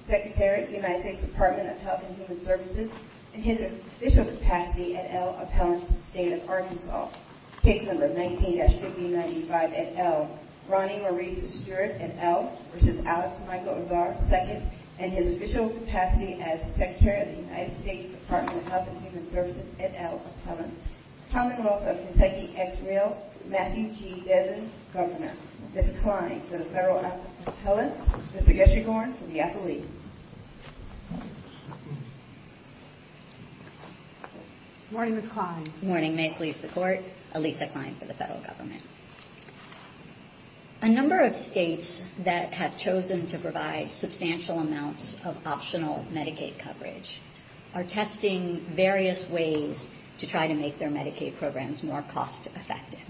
Secretary, United States Department of Health and Human Services, and his official capacity as appellant to the state of Arkansas. Case number 19-1595 et al., Ronnie Maurice Stewart et al. v. Alex Michael Azar, II, and his official capacity as Secretary of the United States Department of Health and Human Services et al. v. Appellants, Commonwealth of Kentucky Ex-Reel, Matthew G. Devin, Governor. Ms. Klein for the federal appellants, Mr. Gershengorn for the appellees. Good morning, Ms. Klein. Good morning. May it please the Court. Alisa Klein for the federal government. A number of states that have chosen to provide substantial amounts of optional Medicaid coverage are testing various ways to try to make their Medicaid programs more cost-effective.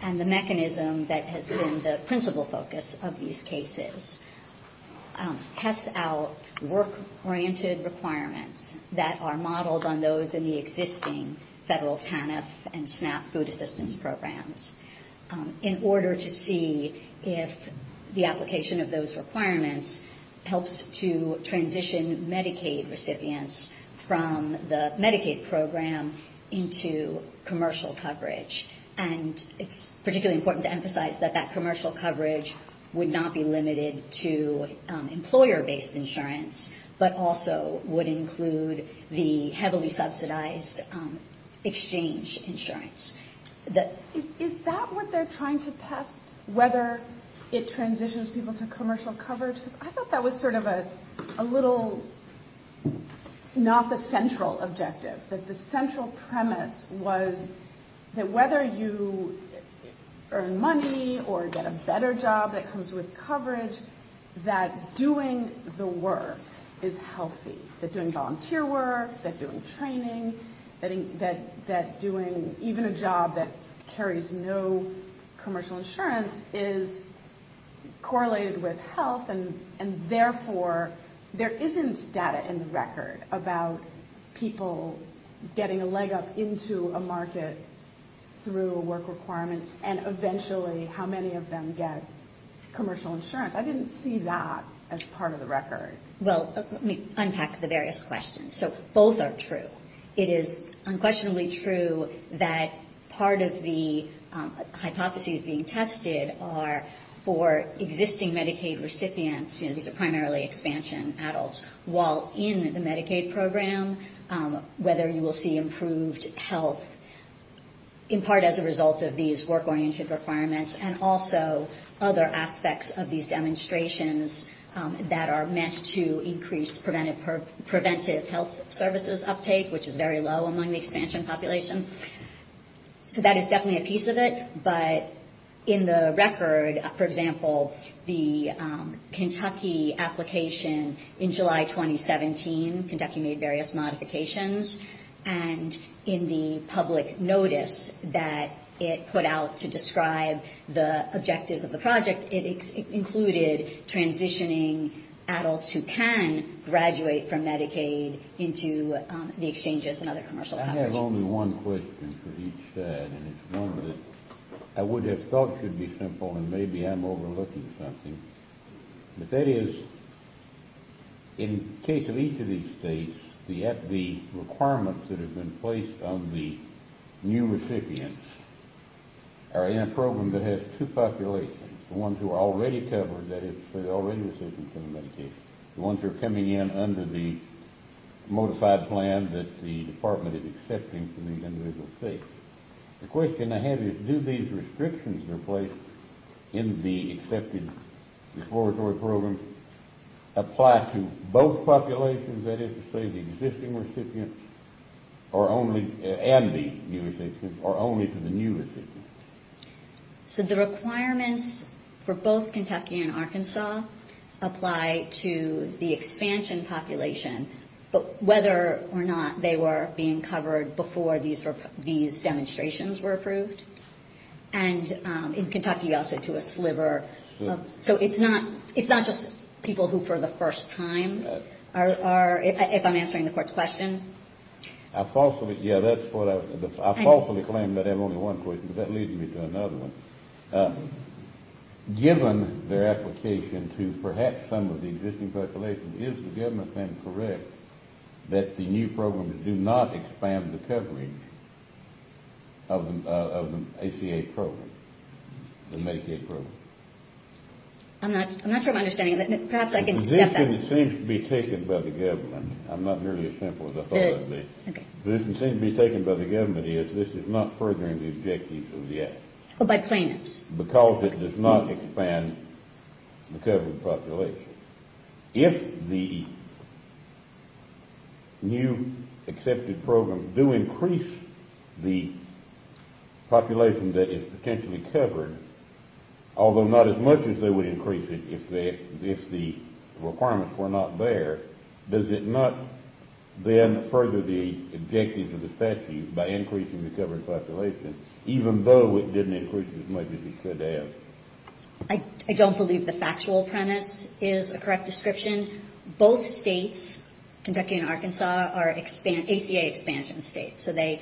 And the mechanism that has been the principal focus of these cases tests out work-oriented requirements that are modeled on those in the existing federal TANF and SNAP food assistance programs in order to see if the application of those requirements helps to transition Medicaid recipients from the Medicaid program into commercial coverage. And it's particularly important to emphasize that that commercial coverage would not be limited to employer-based insurance, but also would include the heavily subsidized exchange insurance. Is that what they're trying to test, whether it transitions people to commercial coverage? Because I thought that was sort of a little not the central objective, that the central premise was that whether you earn money or get a better job that comes with coverage, that doing the work is healthy. That doing volunteer work, that doing training, that doing even a job that carries no commercial insurance is correlated with health, and therefore there isn't data in the record about people getting a leg up into a market through a work requirement and eventually how many of them get commercial insurance. I didn't see that as part of the record. Well, let me unpack the various questions. So both are true. It is unquestionably true that part of the hypotheses being tested are for existing Medicaid recipients, you know, these are primarily expansion adults, while in the Medicaid program, whether you will see improved health in part as a result of these work-oriented requirements and also other aspects of these demonstrations that are meant to increase preventive health services uptake, which is very low among the expansion population. So that is definitely a piece of it, but in the record, for example, the Kentucky application in July 2017, Kentucky made various modifications, and in the public notice that it put out to the objectives of the project, it included transitioning adults who can graduate from Medicaid into the exchanges and other commercial coverage. I have only one question for each side, and it's one that I would have thought should be simple, and maybe I'm overlooking something. But that is, in the case of each of these states, the requirements that have been placed on the new recipients are in a program that has two populations, the ones who are already covered, that is, they're already recipients of Medicaid, the ones who are coming in under the modified plan that the department is accepting for the individual states. The question I have is, do these restrictions that are placed in the accepted exploratory programs apply to both populations, that is to say, the existing recipients and the new recipients, or only to the new recipients? So the requirements for both Kentucky and Arkansas apply to the expansion population, but whether or not they were being covered before these demonstrations were approved, and in Kentucky also to a sliver. So it's not just people who for the first time are, if I'm answering the court's question. I falsely, yeah, that's what I, I falsely claim that I have only one question, but that leads me to another one. Given their application to perhaps some of the existing populations, is the government correct that the new programs do not expand the coverage of the ACA program, the Medicaid program? I'm not sure I'm understanding that. Perhaps I can step back. It seems to be taken by the government. I'm not nearly as simple as I thought I'd be. Okay. It seems to be taken by the government is this is not furthering the objectives of the Act. Oh, by plaintiffs. Because it does not expand the covered population. If the new accepted programs do increase the population that is potentially covered, although not as much as they would increase it if the requirements were not there, does it not then further the objectives of the statute by increasing the covered population, even though it didn't increase it as much as it could have? I don't believe the factual premise is a correct description. Both states, Kentucky and Arkansas, are ACA expansion states, so they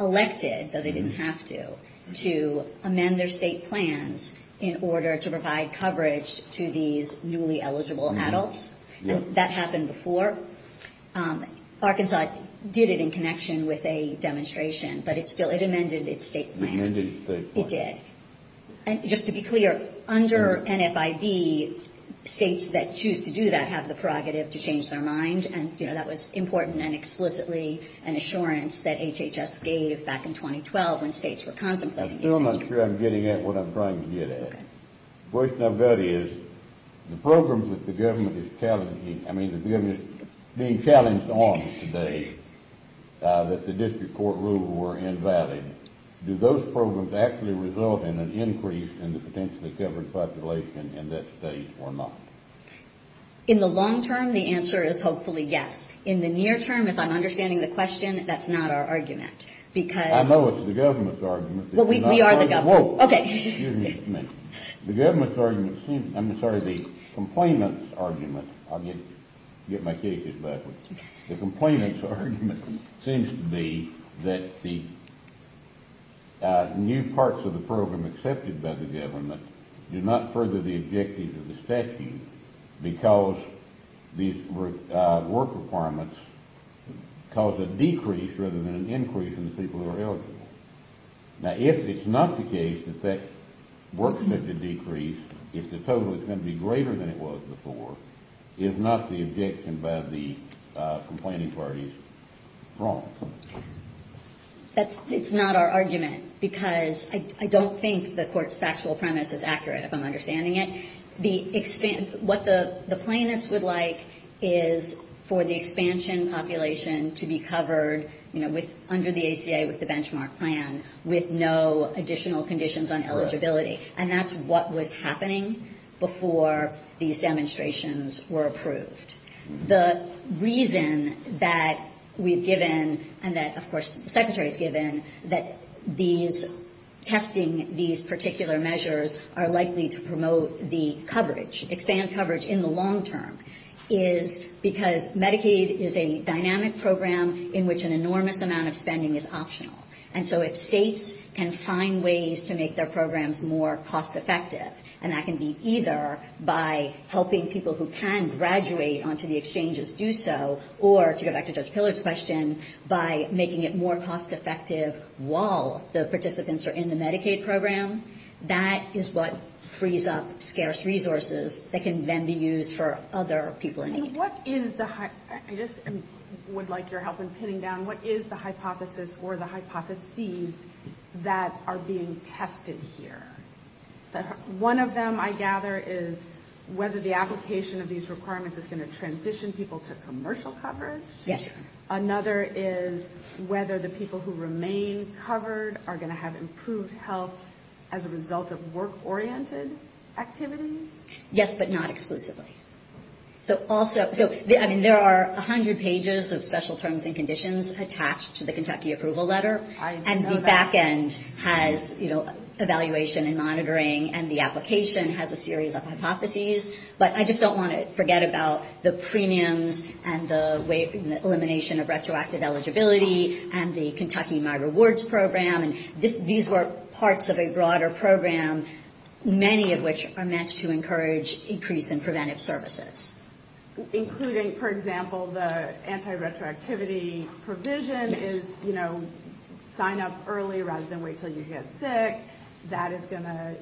elected, though they didn't have to, to amend their state plans in order to provide coverage to these newly eligible adults. That happened before. Arkansas did it in connection with a demonstration, but it still, it amended its state plan. It amended the state plan. It did. Just to be clear, under NFIB, states that choose to do that have the prerogative to change their mind, and that was important and explicitly an assurance that HHS gave back in 2012 when states were contemplating the extension. I'm still not sure I'm getting at what I'm trying to get at. Okay. The question I've got is, the programs that the government is challenging, I mean, the government is being challenged on today that the district court rules were invalid, do those programs actually result in an increase in the potentially covered population in that state or not? In the long term, the answer is hopefully yes. In the near term, if I'm understanding the question, that's not our argument, because I know it's the government's argument. Well, we are the government. Whoa. Okay. Excuse me. The government's argument seems, I'm sorry, the complainant's argument, I'll get my new parts of the program accepted by the government do not further the objectives of the statute because these work requirements cause a decrease rather than an increase in the people who are eligible. Now, if it's not the case that that works as a decrease, if the total is going to be greater than it was before, is not the objection by the complaining parties wrong? That's not our argument, because I don't think the court's factual premise is accurate, if I'm understanding it. What the plaintiffs would like is for the expansion population to be covered under the ACA with the benchmark plan with no additional conditions on eligibility, and that's what was happening before these demonstrations were approved. The reason that we've given, and that, of course, the Secretary's given, that these testing, these particular measures are likely to promote the coverage, expand coverage in the long term, is because Medicaid is a dynamic program in which an enormous amount of spending is optional. And so if states can find ways to make their programs more cost effective, and that can be either by helping people who can graduate onto the exchanges do so, or, to go back to Judge Pillar's question, by making it more cost effective while the participants are in the Medicaid program, that is what frees up scarce resources that can then be used for other people in need. And what is the, I just would like your help in pinning down, what is the hypothesis or the hypotheses that are being tested here? One of them, I gather, is whether the application of these requirements is going to transition people to commercial coverage? Yes. Another is whether the people who remain covered are going to have improved health as a result of work-oriented activities? Yes, but not exclusively. So also, I mean, there are 100 pages of special terms and conditions attached to the Kentucky Evaluation and Monitoring, and the application has a series of hypotheses, but I just don't want to forget about the premiums and the elimination of retroactive eligibility and the Kentucky My Rewards program. And these were parts of a broader program, many of which are meant to encourage increase in preventive services. Including, for example, the anti-retroactivity provision is, you know, sign up early rather than wait until you get sick. That is going to,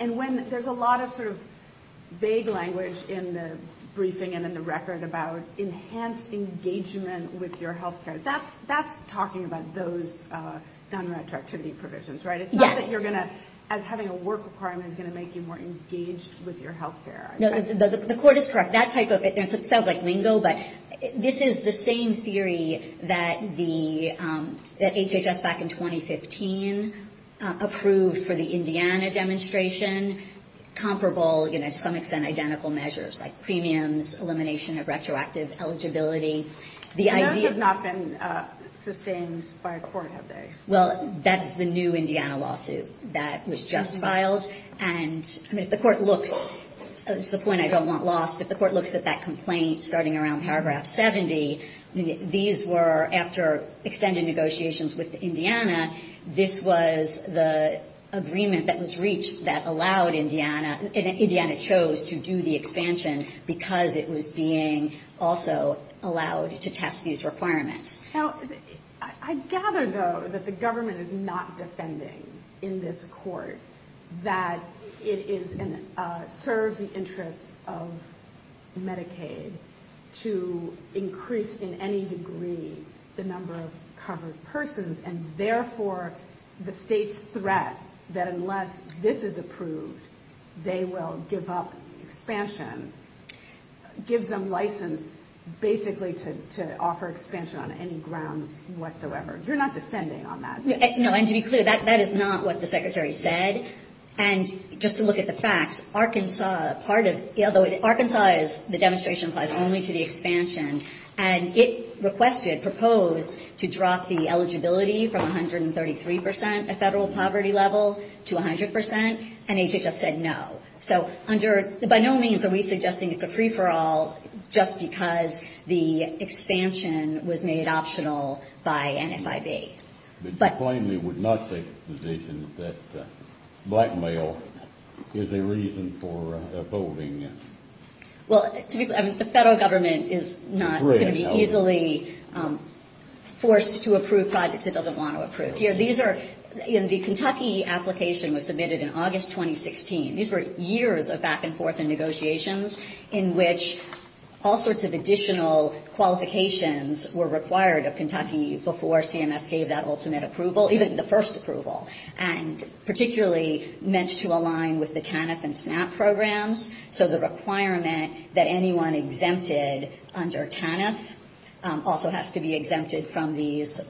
and when, there's a lot of sort of vague language in the briefing and in the record about enhanced engagement with your health care. That's talking about those non-retroactivity provisions, right? Yes. It's not that you're going to, as having a work requirement is going to make you more engaged with your health care. No, the court is correct. That type of, it sounds like lingo, but this is the same theory that the, that HHS back in 2015 approved for the Indiana demonstration, comparable, you know, to some extent identical measures like premiums, elimination of retroactive eligibility. The idea. And those have not been sustained by a court, have they? Well, that's the new Indiana lawsuit that was just filed. And, I mean, if the court looks, this is a point I don't want lost, if the court looks at that complaint starting around paragraph 70, these were after extended negotiations with Indiana, this was the agreement that was reached that allowed Indiana, and Indiana chose to do the expansion because it was being also allowed to test these requirements. Now, I gather, though, that the government is not defending in this court that it is and serves the interests of Medicaid to increase in any degree the number of covered persons. And, therefore, the state's threat that unless this is approved, they will give up expansion gives them license basically to offer expansion on any grounds whatsoever. You're not defending on that. No, and to be clear, that is not what the Secretary said. And just to look at the facts, Arkansas, part of, although Arkansas is, the demonstration applies only to the expansion, and it requested, proposed to drop the eligibility from 133 percent at Federal poverty level to 100 percent, and HHS said no. So under, by no means are we suggesting it's a free-for-all just because the expansion was made optional by NFIB. But you claim they would not take the position that blackmail is a reason for voting. Well, to be clear, the Federal Government is not going to be easily forced to approve projects it doesn't want to approve. Here, these are, the Kentucky application was submitted in August 2016. These were years of back-and-forth and negotiations in which all sorts of additional qualifications were required of Kentucky before CMS gave that ultimate approval, even the first approval, and particularly meant to align with the TANF and SNAP programs. So the requirement that anyone exempted under TANF also has to be exempted from these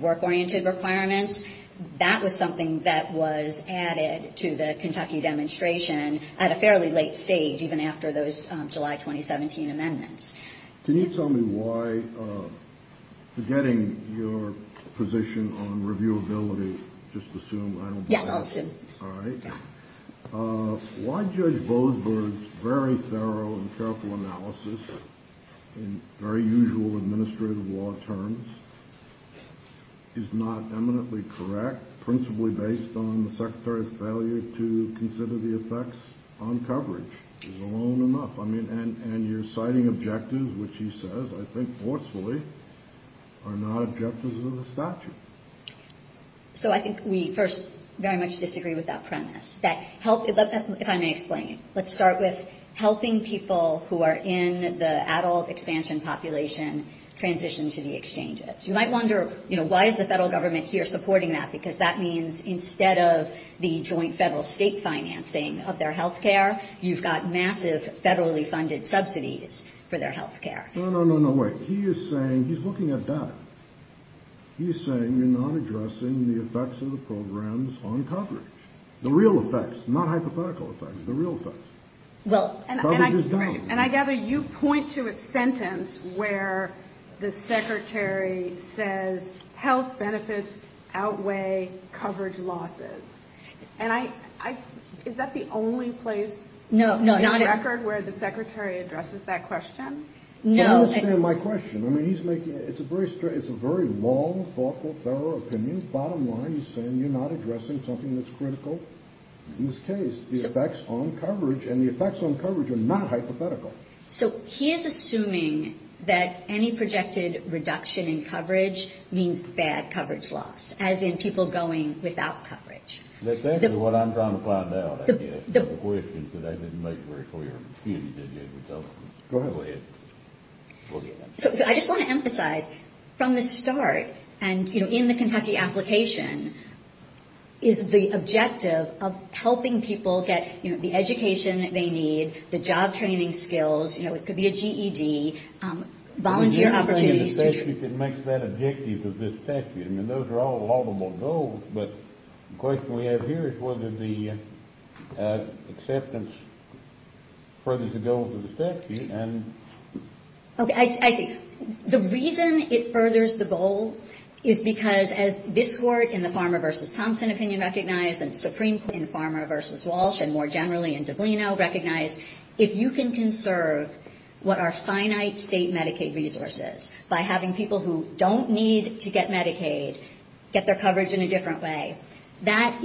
work-oriented requirements. That was something that was added to the Kentucky demonstration at a fairly late stage, even after those July 2017 amendments. Can you tell me why, forgetting your position on reviewability, just assume I don't believe it? Yes, I'll assume. All right. Why Judge Bozberg's very thorough and careful analysis in very usual administrative law terms is not eminently correct, principally based on the Secretary's failure to consider the effects on coverage? He's alone enough. And your citing objectives, which he says, I think forcefully, are not objectives of the statute. So I think we first very much disagree with that premise. If I may explain. Let's start with helping people who are in the adult expansion population transition to the exchanges. You might wonder, why is the federal government here supporting that? Because that means instead of the joint federal-state financing of their health care, you've got massive federally funded subsidies for their health care. No, no, no, wait. He is saying, he's looking at data. He's saying you're not addressing the effects of the programs on coverage. The real effects, not hypothetical effects, the real effects. Well, and I gather you point to a sentence where the Secretary says health benefits outweigh coverage losses. And I, is that the only place? No, no. In the record where the Secretary addresses that question? No. You don't understand my question. I mean, he's making, it's a very long, thoughtful, thorough opinion. Bottom line, he's saying you're not addressing something that's critical in this case. The effects on coverage, and the effects on coverage are not hypothetical. So he is assuming that any projected reduction in coverage means bad coverage loss, as in people going without coverage. That's exactly what I'm trying to find out, I guess. The questions that I didn't make very clear. Excuse me. Go ahead. I just want to emphasize, from the start, and in the Kentucky application, is the objective of helping people get the education they need, the job training skills, it could be a GED, volunteer opportunities. It makes that objective of this statute. I mean, those are all laudable goals, but the question we have here is whether the acceptance furthers the goals of the statute. Okay, I see. The reason it furthers the goal is because, as this Court, in the Farmer v. Thompson opinion recognized, and Supreme Court in Farmer v. Walsh, and more generally in Doblino recognized, is if you can conserve what are finite state Medicaid resources by having people who don't need to get Medicaid get their coverage in a different way, that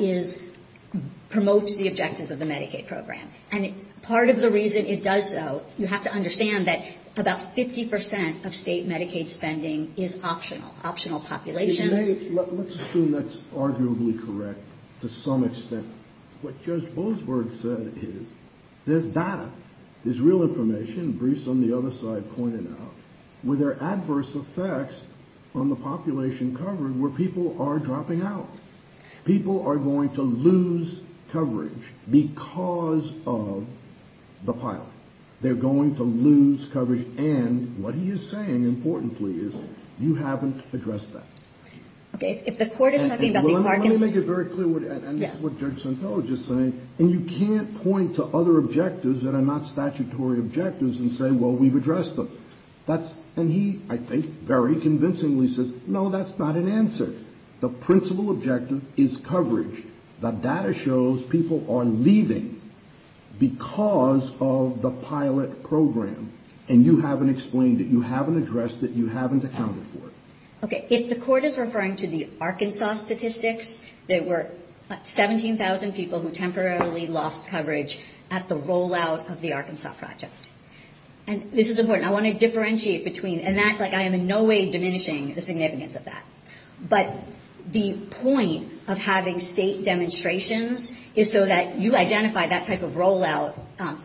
promotes the objectives of the Medicaid program. And part of the reason it does so, you have to understand that about 50 percent of state Medicaid spending is optional, optional populations. Let's assume that's arguably correct to some extent. What Judge Boasberg said is, there's data, there's real information, briefs on the other side pointed out, where there are adverse effects on the population coverage where people are dropping out. People are going to lose coverage because of the pilot. They're going to lose coverage, and what he is saying, importantly, is you haven't addressed that. Okay, if the Court is talking about the Parkinson… Let me make it very clear what Judge Centello is just saying, and you can't point to other objectives that are not statutory objectives and say, well, we've addressed them. And he, I think, very convincingly says, no, that's not an answer. The principal objective is coverage. The data shows people are leaving because of the pilot program, and you haven't explained it. You haven't addressed it. You haven't accounted for it. Okay, if the Court is referring to the Arkansas statistics, there were 17,000 people who temporarily lost coverage at the rollout of the Arkansas project. And this is important. I want to differentiate between, and act like I am in no way diminishing the significance of that. But the point of having state demonstrations is so that you identify that type of rollout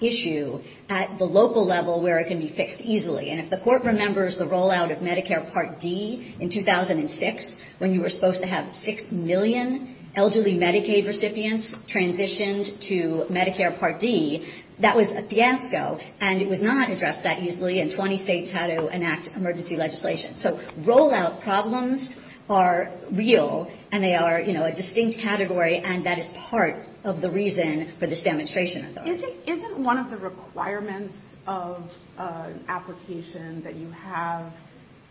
issue at the local level where it can be fixed easily. And if the Court remembers the rollout of Medicare Part D in 2006, when you were supposed to have 6 million elderly Medicaid recipients transitioned to Medicare Part D, that was a fiasco, and it was not addressed that easily, and 20 states had to enact emergency legislation. So rollout problems are real, and they are, you know, a distinct category, and that is part of the reason for this demonstration. Isn't one of the requirements of an application that you have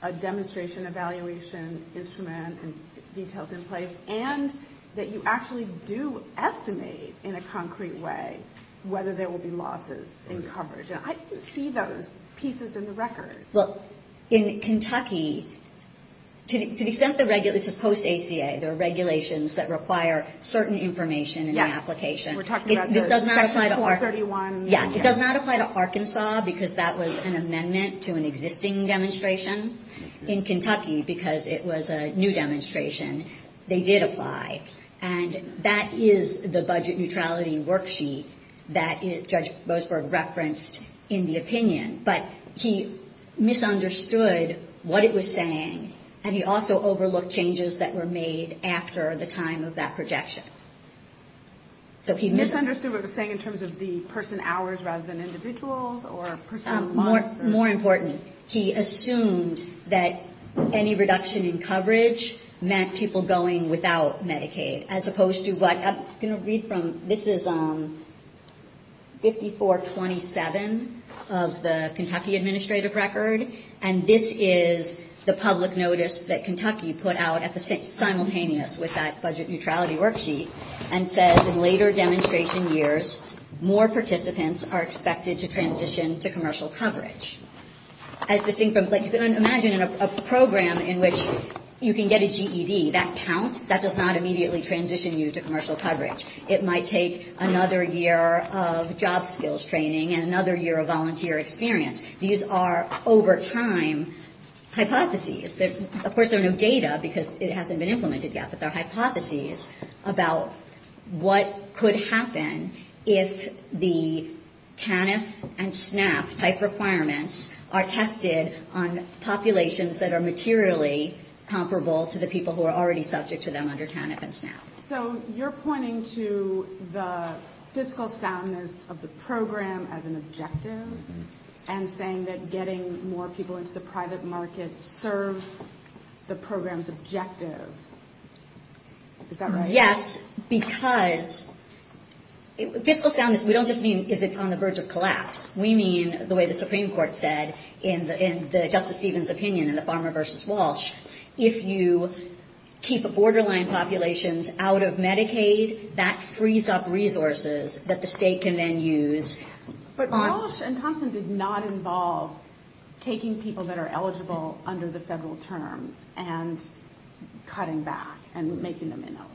a demonstration evaluation instrument and details in place, and that you actually do estimate in a concrete way whether there will be losses in coverage? And I don't see those pieces in the record. Look, in Kentucky, to the extent the regulation, it's a post-ACA. There are regulations that require certain information in the application. Yes, we're talking about those. Section 431. Yeah. It does not apply to Arkansas because that was an amendment to an existing demonstration. In Kentucky, because it was a new demonstration, they did apply. And that is the budget neutrality worksheet that Judge Boasberg referenced in the opinion, but he misunderstood what it was saying, and he also overlooked changes that were made after the time of that projection. Misunderstood what it was saying in terms of the person hours rather than individuals or person months? More important, he assumed that any reduction in coverage meant people going without Medicaid as opposed to what, I'm going to read from, this is 5427 of the Kentucky administrative record, and this is the public notice that Kentucky put out at the same, simultaneous with that budget neutrality worksheet, and says, in later demonstration years, more participants are expected to transition to commercial coverage. As distinct from, like, you can imagine a program in which you can get a GED. That counts. That does not immediately transition you to commercial coverage. It might take another year of job skills training and another year of volunteer experience. These are over time hypotheses. Of course, there are no data because it hasn't been implemented yet, but they're hypotheses about what could happen if the TANF and SNAP type requirements are tested on populations that are materially comparable to the people who are already subject to them under TANF and SNAP. So you're pointing to the fiscal soundness of the program as an objective and saying that getting more people into the private market serves the program's objective. Is that right? Yes, because fiscal soundness, we don't just mean is it on the verge of collapse. We mean, the way the Supreme Court said in Justice Stevens' opinion in the Farmer versus Walsh, if you keep borderline populations out of Medicaid, that frees up resources that the state can then use. But Walsh and Thompson did not involve taking people that are eligible under the federal terms and cutting back and making them ineligible.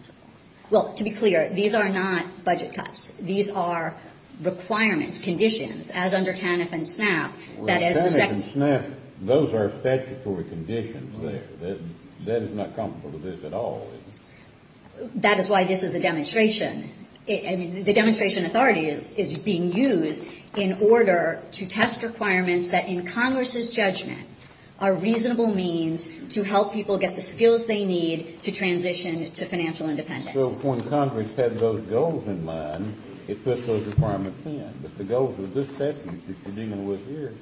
Well, to be clear, these are not budget cuts. These are requirements, conditions, as under TANF and SNAP. TANF and SNAP, those are statutory conditions there. That is not comparable to this at all. That is why this is a demonstration. I mean, the demonstration authority is being used in order to test requirements that in Congress's judgment are reasonable means to help people get the skills they need to transition to financial independence. So when Congress had those goals in mind, it put those requirements in. But the goals of this statute that you're dealing with here,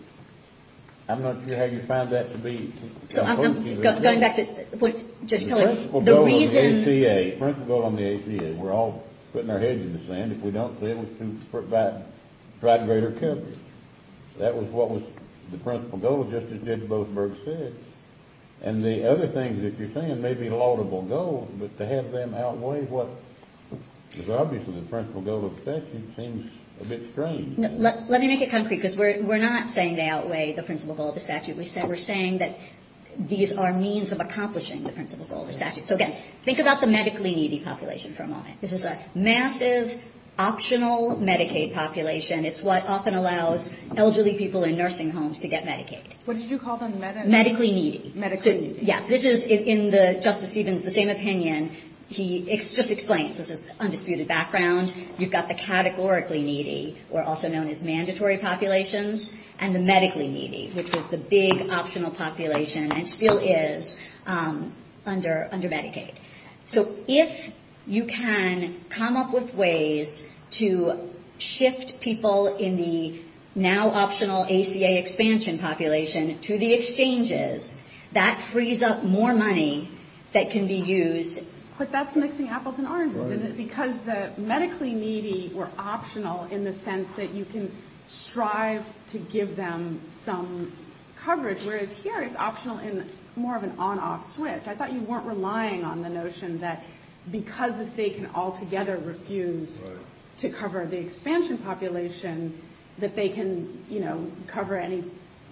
I'm not sure how you found that to be. So I'm going back to Judge Pillard. The principal goal on the ACA, we're all putting our heads in the sand if we don't be able to provide greater coverage. That was what was the principal goal, just as Judge Boothburg said. And the other things that you're saying may be laudable goals, but to have them outweigh what is obviously the principal goal of the statute seems a bit strange. Let me make it concrete, because we're not saying they outweigh the principal goal of the statute. We're saying that these are means of accomplishing the principal goal of the statute. So, again, think about the medically needy population for a moment. This is a massive, optional Medicaid population. It's what often allows elderly people in nursing homes to get Medicaid. What did you call them? Medically needy. Medically needy. Yes. This is, in Justice Stevens' the same opinion, he just explains. This is undisputed background. You've got the categorically needy, or also known as mandatory populations, and the medically needy, which was the big optional population and still is under Medicaid. So if you can come up with ways to shift people in the now optional ACA expansion population to the exchanges, that frees up more money that can be used. But that's mixing apples and oranges, isn't it? Right. Because the medically needy were optional in the sense that you can strive to give them some coverage, whereas here it's optional in more of an on-off switch. I thought you weren't relying on the notion that because the state can altogether refuse to cover the expansion population, that they can, you know, cover any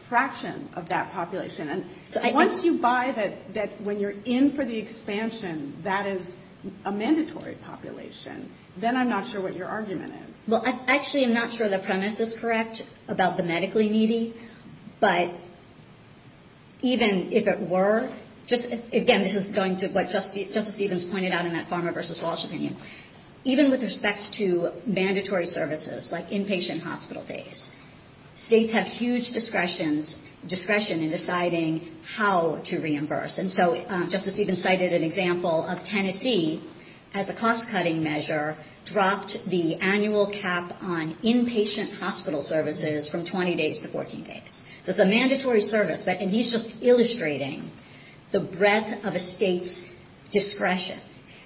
fraction of that population. And once you buy that when you're in for the expansion, that is a mandatory population, then I'm not sure what your argument is. Well, actually, I'm not sure the premise is correct about the medically needy. But even if it were, again, this is going to what Justice Stevens pointed out in that Farmer v. Walsh opinion. Even with respect to mandatory services, like inpatient hospital days, states have huge discretion in deciding how to reimburse. And so Justice Stevens cited an example of Tennessee as a cost-cutting measure dropped the annual cap on inpatient hospital services from 20 days to 14 days. This is a mandatory service, and he's just illustrating the breadth of a state's discretion.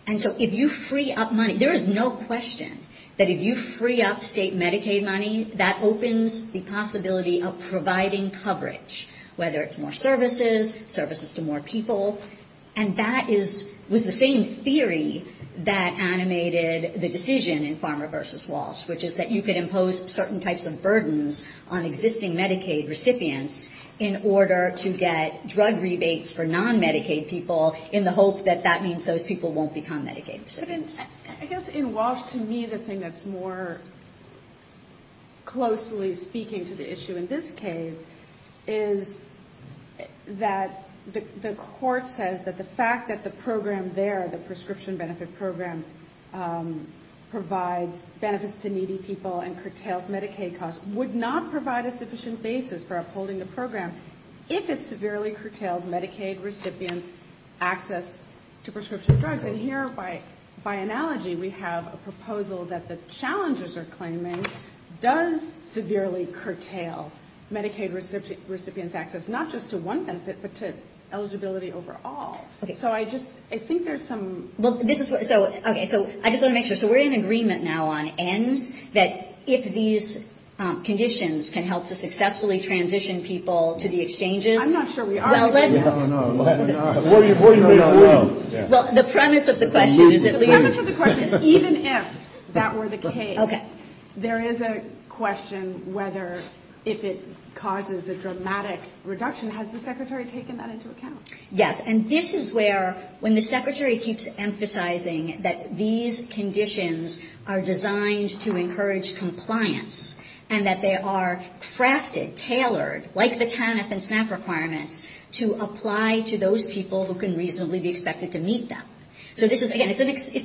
And so if you free up money, there is no question that if you free up state Medicaid money, that opens the possibility of providing coverage, whether it's more services, services to more people. And that was the same theory that animated the decision in Farmer v. Walsh, which is that you could impose certain types of burdens on existing Medicaid recipients in order to get drug rebates for non-Medicaid people in the hope that that means those people won't become Medicaid recipients. I guess in Walsh, to me, the thing that's more closely speaking to the issue in this case is that the court says that the fact that the program there, the prescription benefit program, provides benefits to needy people and curtails Medicaid costs, would not provide a sufficient basis for upholding the program if it severely curtailed Medicaid recipients' access to prescription drugs. And here, by analogy, we have a proposal that the challengers are claiming does severely curtail Medicaid recipients' access, not just to one benefit, but to eligibility overall. So I just, I think there's some... Okay, so I just want to make sure. So we're in agreement now on ends that if these conditions can help to successfully transition people to the exchanges... I'm not sure we are. Well, the premise of the question is at least... The premise of the question, whether, if it causes a dramatic reduction, has the Secretary taken that into account? Yes. And this is where, when the Secretary keeps emphasizing that these conditions are designed to encourage compliance, and that they are crafted, tailored, like the TANF and SNAP requirements, to apply to those people who can reasonably be expected to meet them. So this is, again, it's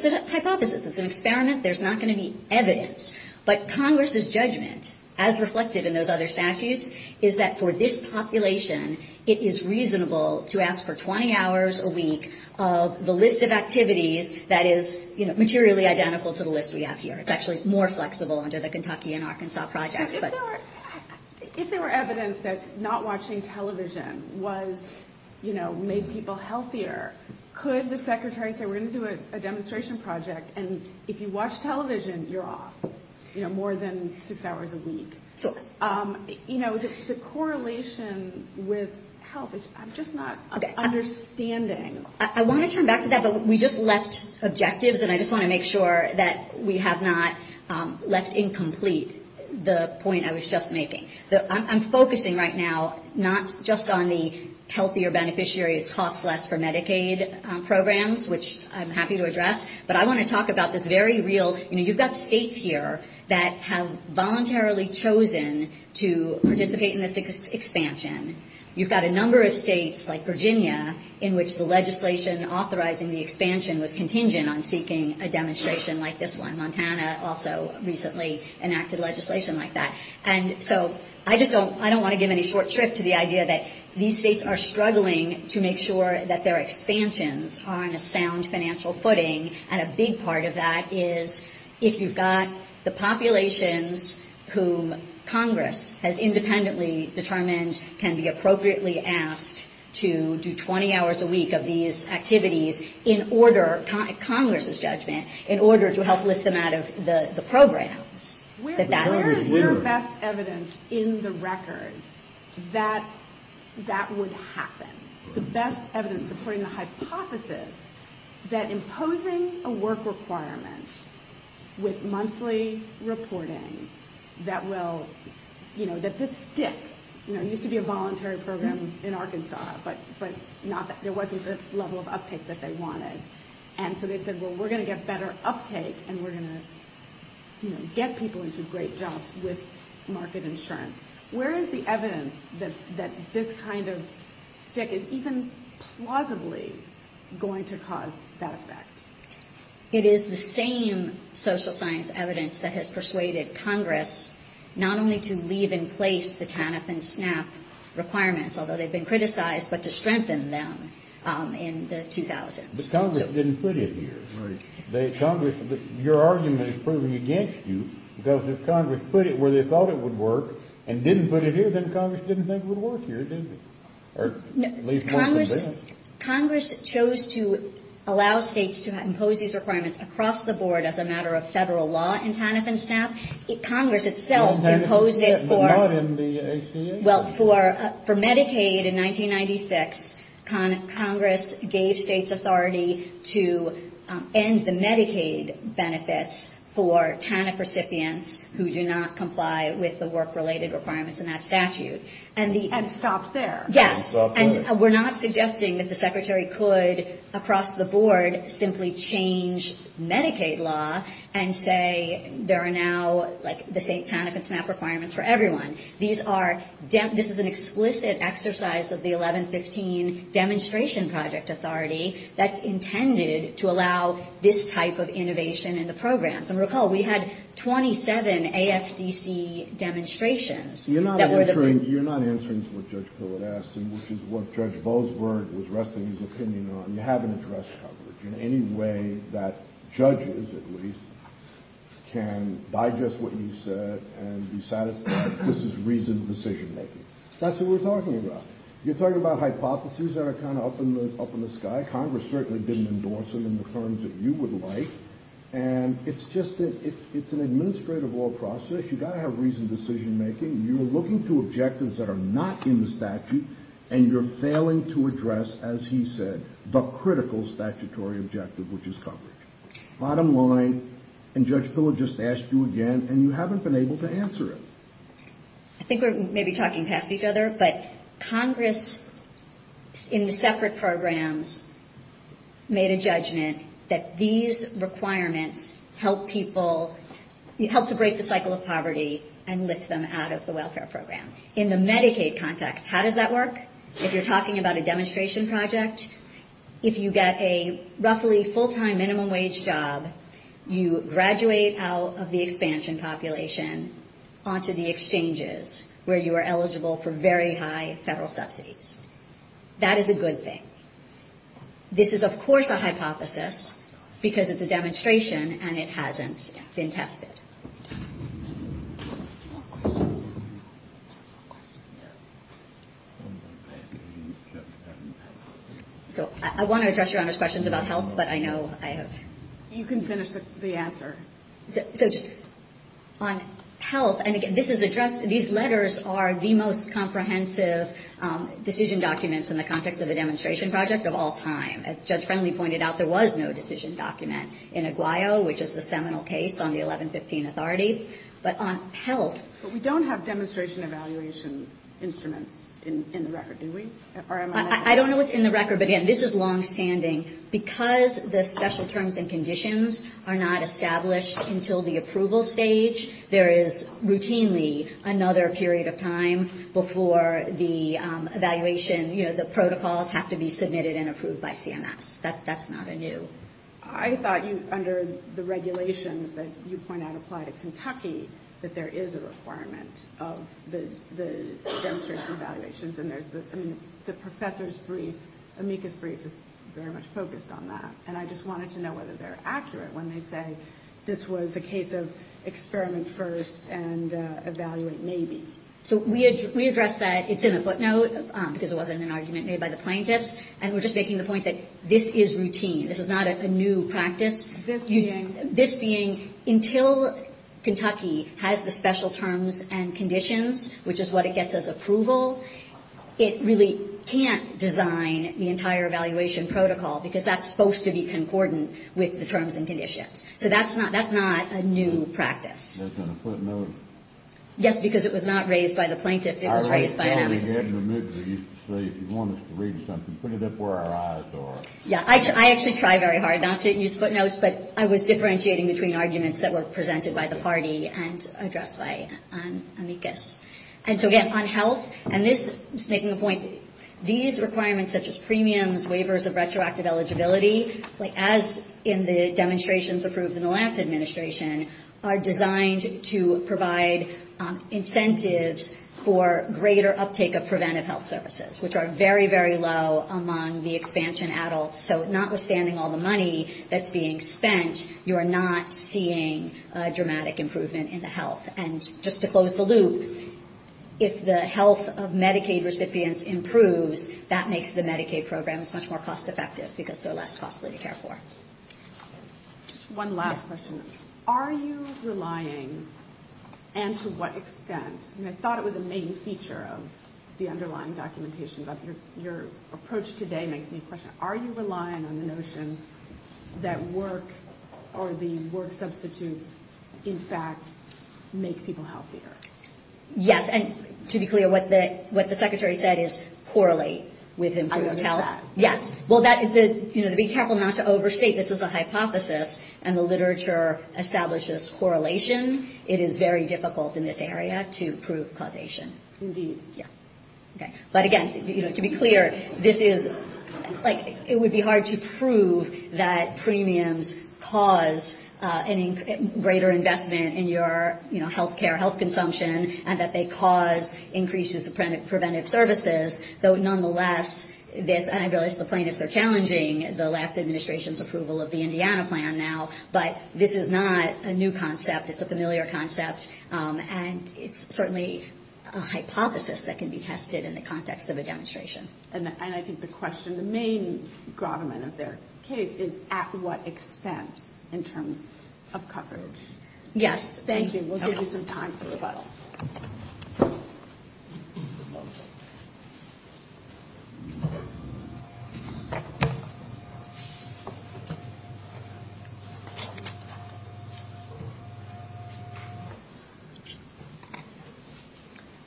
a hypothesis. It's an experiment. There's not going to be evidence. But Congress's judgment, as reflected in those other statutes, is that for this population, it is reasonable to ask for 20 hours a week of the list of activities that is, you know, materially identical to the list we have here. It's actually more flexible under the Kentucky and Arkansas projects, but... If there were evidence that not watching television was, you know, made people healthier, could the Secretary say, we're going to do a demonstration project, and if you watch television, you're off, you know, more than six hours a week? You know, the correlation with health, I'm just not understanding. I want to turn back to that, but we just left objectives, and I just want to make sure that we have not left incomplete the point I was just making. I'm focusing right now not just on the healthier beneficiaries cost less for Medicaid programs, which I'm happy to address, but I want to talk about this very real... You know, you've got states here that have voluntarily chosen to participate in this expansion. You've got a number of states, like Virginia, in which the legislation authorizing the expansion was contingent on seeking a demonstration like this one. Montana also recently enacted legislation like that. And so I just don't, I don't want to give any short trip to the idea that these states are struggling to make sure that their expansions are on a sound financial footing, and a big part of that is if you've got the populations whom Congress has independently determined can be appropriately asked to do 20 hours a week of these activities in order, Congress's judgment, in order to help lift them out of the programs. Where is your best evidence in the record that that would happen? The best evidence supporting the hypothesis that imposing a work requirement with monthly reporting that will, you know, that this stick, you know, it used to be a voluntary program in Arkansas, but not, there wasn't the level of uptake that they wanted. And so they said, well, we're going to get better uptake and we're going to, you know, get people into great jobs with market insurance. Where is the evidence that this kind of stick is going to help and is even plausibly going to cause that effect? It is the same social science evidence that has persuaded Congress not only to leave in place the TANF and SNAP requirements, although they've been criticized, but to strengthen them in the 2000s. But Congress didn't put it here. Congress, your argument is proven against you, because if Congress put it where they thought it would work and didn't put it here, then Congress didn't think it would work here, did it? Congress chose to allow states to impose these requirements across the board as a matter of federal law in TANF and SNAP. Congress itself imposed it for... Well, for Medicaid in 1996, Congress gave states authority to end the Medicaid benefits for TANF recipients who do not comply with the work-related requirements in that statute. And stopped there. Yes. And we're not suggesting that the Secretary could, across the board, simply change Medicaid law and say there are now, like, the TANF and SNAP requirements for everyone. This is an explicit exercise of the 1115 Demonstration Project Authority that's intended to allow this type of innovation in the programs. And recall, we had 27 AFDC demonstrations. You're not answering to what Judge Pillard asked, which is what Judge Bozberg was resting his opinion on. You haven't addressed coverage in any way that judges, at least, can digest what you said and be satisfied that this is reasoned decision-making. That's what we're talking about. You're talking about hypotheses that are kind of up in the sky. Congress certainly didn't endorse them in the terms that you would like. And it's just an administrative law process. You've got to have reasoned decision-making. You're looking to objectives that are not in the statute, and you're failing to address, as he said, the critical statutory objective, which is coverage. Bottom line, and Judge Pillard just asked you again, and you haven't been able to answer it. I think we're maybe talking past each other, but Congress, in the separate programs, made a judgment that these requirements help people, help to break the cycle of poverty and lift them out of the welfare program. In the Medicaid context, how does that work? If you're talking about a demonstration project, if you get a roughly full-time minimum wage job, you graduate out of the expansion population onto the exchanges where you are eligible for very high federal subsidies. That is a good thing. This is, of course, a hypothesis, because it's a demonstration, and it hasn't been tested. So I want to address Your Honor's questions about health, but I know I have... On health, and again, this is addressed, these letters are the most comprehensive decision documents in the context of a demonstration project of all time. As Judge Friendly pointed out, there was no decision document in Aguayo, which is the seminal case on the 1115 Authority, but on health... I don't know what's in the record, but again, this is longstanding. Because the special terms and conditions are not established until the approval stage, there is routinely another period of time before the evaluation... The protocols have to be submitted and approved by CMS. That's not anew. I thought under the regulations that you point out apply to Kentucky, that there is a requirement of the demonstration evaluations, and the professor's brief, Amica's brief, is very much focused on that, and I just wanted to know whether they're considered as a case of experiment first, and evaluate maybe. So we address that, it's in the footnote, because it wasn't an argument made by the plaintiffs, and we're just making the point that this is routine. This is not a new practice. This being, until Kentucky has the special terms and conditions, which is what it gets as approval, it really can't design the entire evaluation protocol, because that's supposed to be concordant with the terms and conditions. It's not a new practice. Yes, because it was not raised by the plaintiffs, it was raised by Amica's. I actually try very hard not to use footnotes, but I was differentiating between arguments that were presented by the party, and addressed by Amica's. And so again, on health, and just making a point, these requirements such as premiums, waivers of retroactive eligibility, as in the previous administration, are designed to provide incentives for greater uptake of preventive health services, which are very, very low among the expansion adults, so notwithstanding all the money that's being spent, you're not seeing dramatic improvement in the health. And just to close the loop, if the health of Medicaid recipients improves, that makes the Medicaid programs much more cost effective, because they're less costly to care for. Just one last question. Are you relying, and to what extent, and I thought it was a main feature of the underlying documentation, but your approach today makes me question, are you relying on the notion that work, or the work substitutes, in fact, make people healthier? Yes, and to be clear, what the Secretary said is correlate with improved health. Yes, well, be careful not to overstate, this is a hypothesis, and the literature establishes correlation. It is very difficult in this area to prove causation. But again, to be clear, this is, it would be hard to prove that premiums cause greater investment in your health care, health consumption, and that they cause increases in preventive services. Though nonetheless, this, and I realize the plaintiffs are challenging the last administration's approval of the Indiana plan now, but this is not a new concept, it's a familiar concept, and it's certainly a hypothesis that can be tested in the context of a demonstration. And I think the question, the main grommet of their case is at what expense in terms of coverage. Yes. Thank you. Good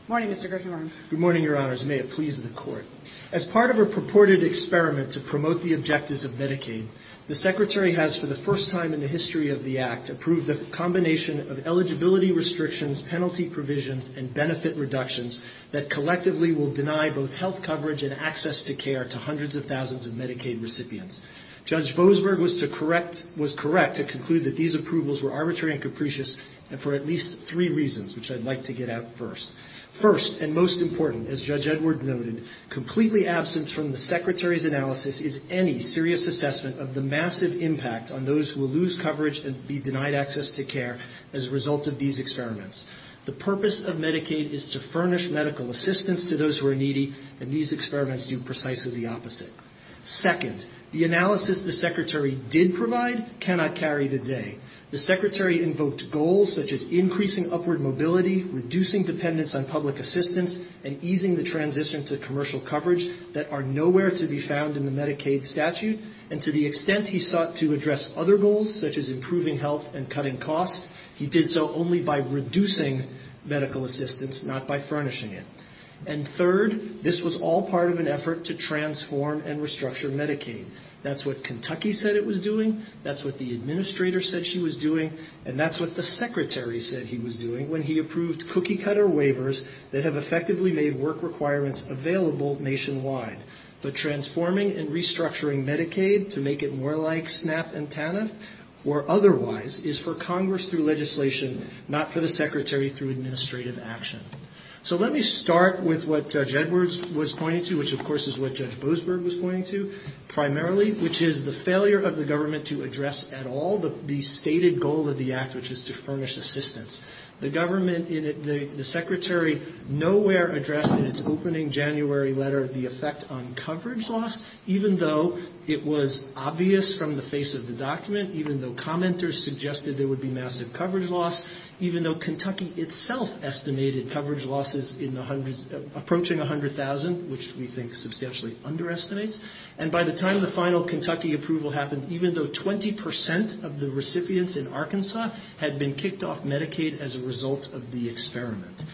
morning, Mr. Grisham. Good morning, Your Honors. May it please the Court. As part of a purported experiment to promote the objectives of Medicaid, the Secretary has, for the first time in the history of the Act, approved a combination of eligibility restrictions, penalty provisions, and benefit reductions that collectively will deny both health care and health benefits to the public. This is an experiment that will deny health coverage and access to care to hundreds of thousands of Medicaid recipients. Judge Boasberg was to correct, was correct to conclude that these approvals were arbitrary and capricious, and for at least three reasons, which I'd like to get at first. First, and most important, as Judge Edward noted, completely absent from the Secretary's analysis is any serious assessment of the massive impact on those who will lose coverage and be denied access to care as a result of these experiments. The purpose of Medicaid is to furnish medical assistance to those who are needy, and these experiments do precisely the opposite. Second, the analysis the Secretary did provide cannot carry the day. The Secretary invoked goals such as increasing upward mobility, reducing dependence on public assistance, and easing the transition to commercial coverage that are nowhere to be found in the Medicaid statute. And to the extent he sought to address other goals, such as improving health and cutting costs, he did so only by reducing the burden on the public. He did so by reducing medical assistance, not by furnishing it. And third, this was all part of an effort to transform and restructure Medicaid. That's what Kentucky said it was doing, that's what the Administrator said she was doing, and that's what the Secretary said he was doing when he approved cookie-cutter waivers that have effectively made work requirements available nationwide. But transforming and restructuring Medicaid to make it more like SNAP and TANF, or otherwise, is for Congress through legislation, not for the Secretary. It's necessary through administrative action. So let me start with what Judge Edwards was pointing to, which, of course, is what Judge Boasberg was pointing to, primarily, which is the failure of the government to address at all the stated goal of the Act, which is to furnish assistance. The government, the Secretary, nowhere addressed in its opening January letter the effect on coverage loss, even though it was obvious from the face of the document, even though commenters suggested there would be massive coverage loss, even though Kentucky acknowledged that. The government itself estimated coverage losses approaching 100,000, which we think substantially underestimates, and by the time the final Kentucky approval happened, even though 20% of the recipients in Arkansas had been kicked off Medicaid as a result of the experiment,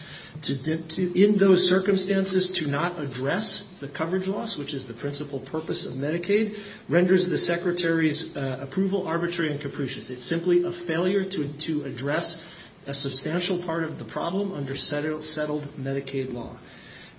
in those circumstances, to not address the coverage loss, which is the principal purpose of Medicaid, renders the Secretary's approval arbitrary and capricious. It's simply a failure to address a substantial part of the problem under settled Medicaid law.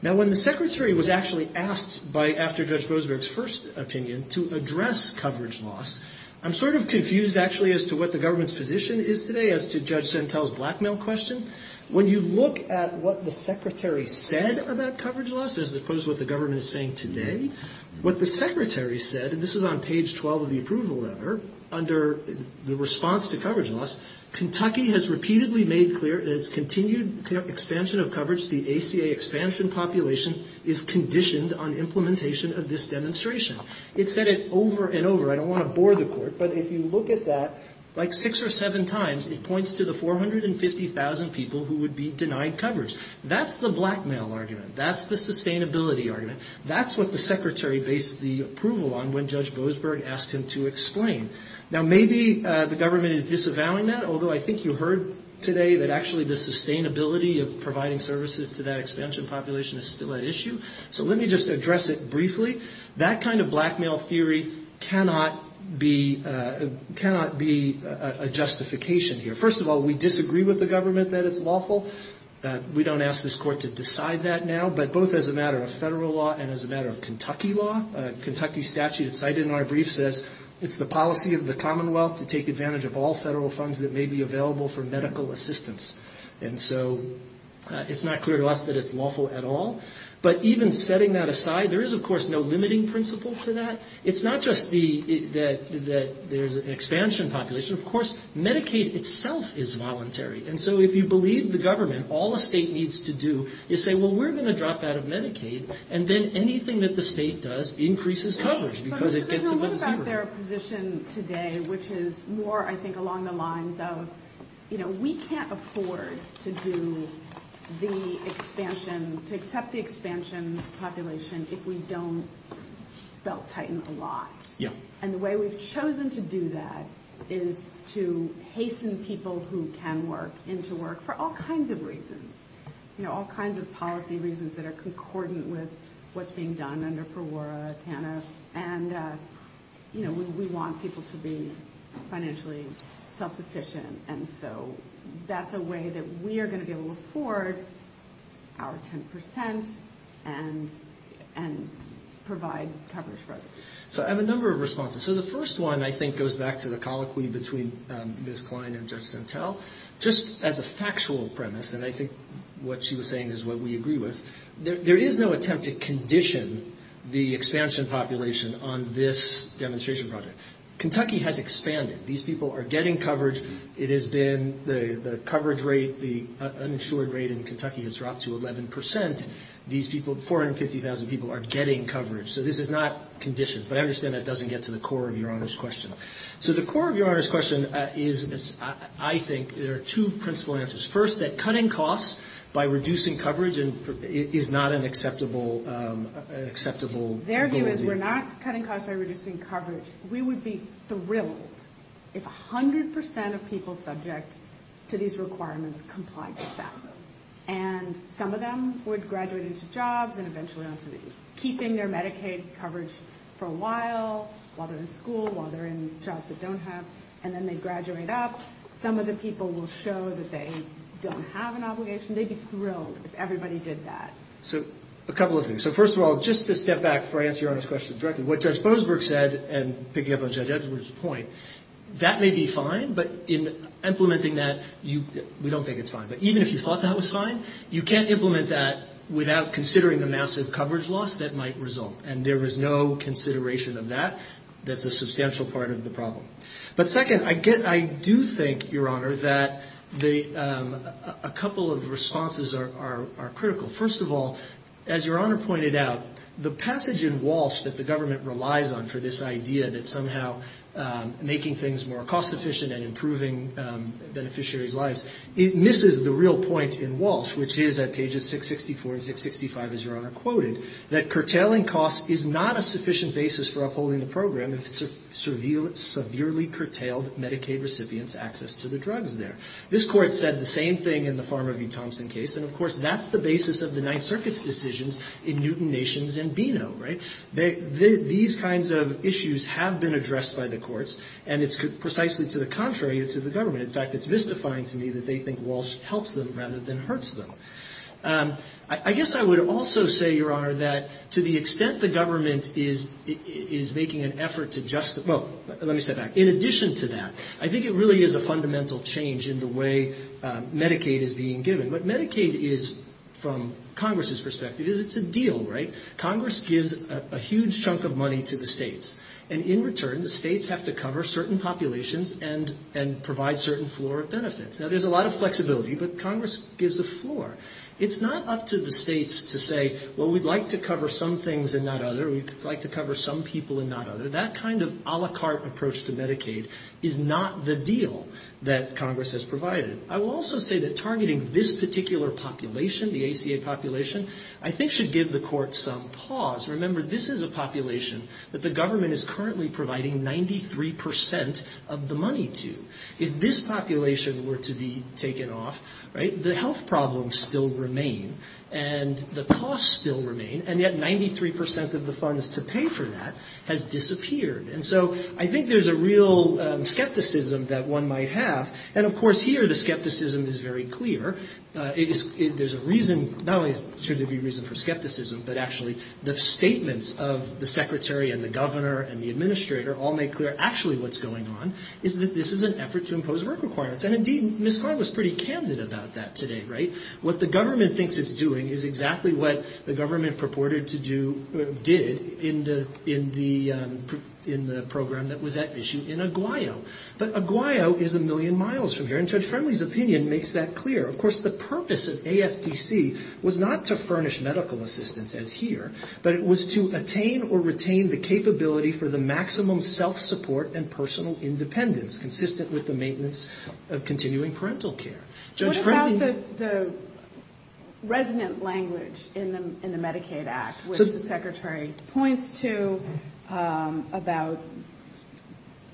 Now, when the Secretary was actually asked by, after Judge Boasberg's first opinion, to address coverage loss, I'm sort of confused, actually, as to what the government's position is today as to Judge Sentel's blackmail question. When you look at what the Secretary said about coverage loss, as opposed to what the government is saying today, what the Secretary said, and this was on page 12 of the approval letter, under the recommendation of the Secretary, is that the government's position is that coverage loss should be addressed. In response to coverage loss, Kentucky has repeatedly made clear that its continued expansion of coverage, the ACA expansion population, is conditioned on implementation of this demonstration. It said it over and over. I don't want to bore the Court, but if you look at that, like six or seven times, it points to the 450,000 people who would be denied coverage. That's the blackmail argument. That's the sustainability argument. That's what the Secretary based the approval on when Judge Boasberg asked him to explain. Now, maybe the government is disavowing that, although I think you heard today that actually the sustainability of providing services to that expansion population is still at issue. So let me just address it briefly. That kind of blackmail theory cannot be a justification here. First of all, we disagree with the government that it's lawful. We don't ask this Court to decide that now, but both as a matter of federal law and as a matter of Kentucky law. Kentucky statute cited in our brief says it's the policy of the Commonwealth to take advantage of all federal funds that may be available for medical assistance. And so it's not clear to us that it's lawful at all. But even setting that aside, there is, of course, no limiting principle to that. It's not just that there's an expansion population. Of course, Medicaid itself is voluntary. And so if you believe the government, all a state needs to do is say, well, we're going to drop out of Medicaid. And then anything that the state does increases coverage because it gets a little cheaper. But there's a little bit about their position today, which is more, I think, along the lines of, you know, we can't afford to do the expansion, to accept the expansion population if we don't belt tighten a lot. And the way we've chosen to do that is to hasten people who can work into work for all kinds of reasons. You know, all kinds of policy reasons that are concordant with what's being done under PRAWRA, TANF. And, you know, we want people to be financially self-sufficient. And so that's a way that we are going to be able to afford our 10 percent and provide coverage for others. So I have a number of responses. So the first one, I think, goes back to the colloquy between Ms. Klein and Judge Santel. Just as a factual premise, and I think what she was saying is what we agree with, there is no attempt to condition the expansion population on this demonstration project. Kentucky has expanded. These people are getting coverage. It has been the coverage rate, the uninsured rate in Kentucky has dropped to 11 percent. These people, 450,000 people, are getting coverage. So this is not conditioned. But I understand that doesn't get to the core of Your Honor's question. So the core of Your Honor's question is, I think, there are two principal answers. First, that cutting costs by reducing coverage is not an acceptable goal. Their view is we're not cutting costs by reducing coverage. We would be thrilled if 100 percent of people subject to these requirements complied with that. And some of them would graduate into jobs and eventually on to keeping their Medicaid coverage for a long time. So while they're in school, while they're in jobs that don't have, and then they graduate up, some of the people will show that they don't have an obligation. They'd be thrilled if everybody did that. So a couple of things. So first of all, just to step back before I answer Your Honor's question directly, what Judge Bosberg said, and picking up on Judge Edwards' point, that may be fine, but in implementing that, we don't think it's fine. But even if you thought that was fine, you can't implement that without considering the massive coverage loss that might result. And there is no consideration of that that's a substantial part of the problem. But second, I do think, Your Honor, that a couple of responses are critical. First of all, as Your Honor pointed out, the passage in Walsh that the government relies on for this idea that somehow making things more cost-efficient and improving beneficiaries' lives, it misses the real point in Walsh, which is at pages 664 and 665, as Your Honor quoted, that curtailing costs is not a sufficient basis for upholding the program if severely curtailed Medicaid recipients' access to the drugs there. This Court said the same thing in the Pharma v. Thompson case. And of course, that's the basis of the Ninth Circuit's decisions in Newton Nations and Bino, right? These kinds of issues have been addressed by the courts, and it's precisely to the contrary to the government. In fact, it's mystifying to me that they think Walsh helps them rather than hurts them. I guess I would also say, Your Honor, that to the extent the government is making an effort to justify, well, let me step back, in addition to that, I think it really is a fundamental change in the way Medicaid is being given. What Medicaid is, from Congress's perspective, is it's a deal, right? Congress gives a huge chunk of money to the states, and in return, the states have to cover certain populations and provide certain floor of benefits. Now, there's a lot of flexibility, but Congress gives a floor. It's not up to the states to say, well, we'd like to cover some things and not other, we'd like to cover some people and not other. That kind of a la carte approach to Medicaid is not the deal that Congress has provided. I will also say that targeting this particular population, the ACA population, I think should give the courts some pause. Remember, this is a population that the government is currently providing 93 percent of the money to. If this population were to be taken off, right, the health problems still remain, and the costs still remain, and yet 93 percent of the funds to pay for that has disappeared. And so I think there's a real skepticism that one might have, and of course here the skepticism is very clear. There's a reason, not only should there be reason for skepticism, but actually the statements of the secretary and the governor and the administrator all make clear actually what's going on, is that this is an effort to impose work requirements. And indeed, Ms. Klein was pretty candid about that today, right? What the government thinks it's doing is exactly what the government purported to do, did, in the program that was at issue in Aguayo. But Aguayo is a million miles from here, and Judge Friendly's opinion makes that clear. Of course, the purpose of AFDC was not to furnish medical assistance, as here, but it was to attain or retain the capability for the maximum self-support and personal independence, consistent with the maintenance of continuing parental care. Judge Friendly... What about the resonant language in the Medicaid Act, which the secretary points to, about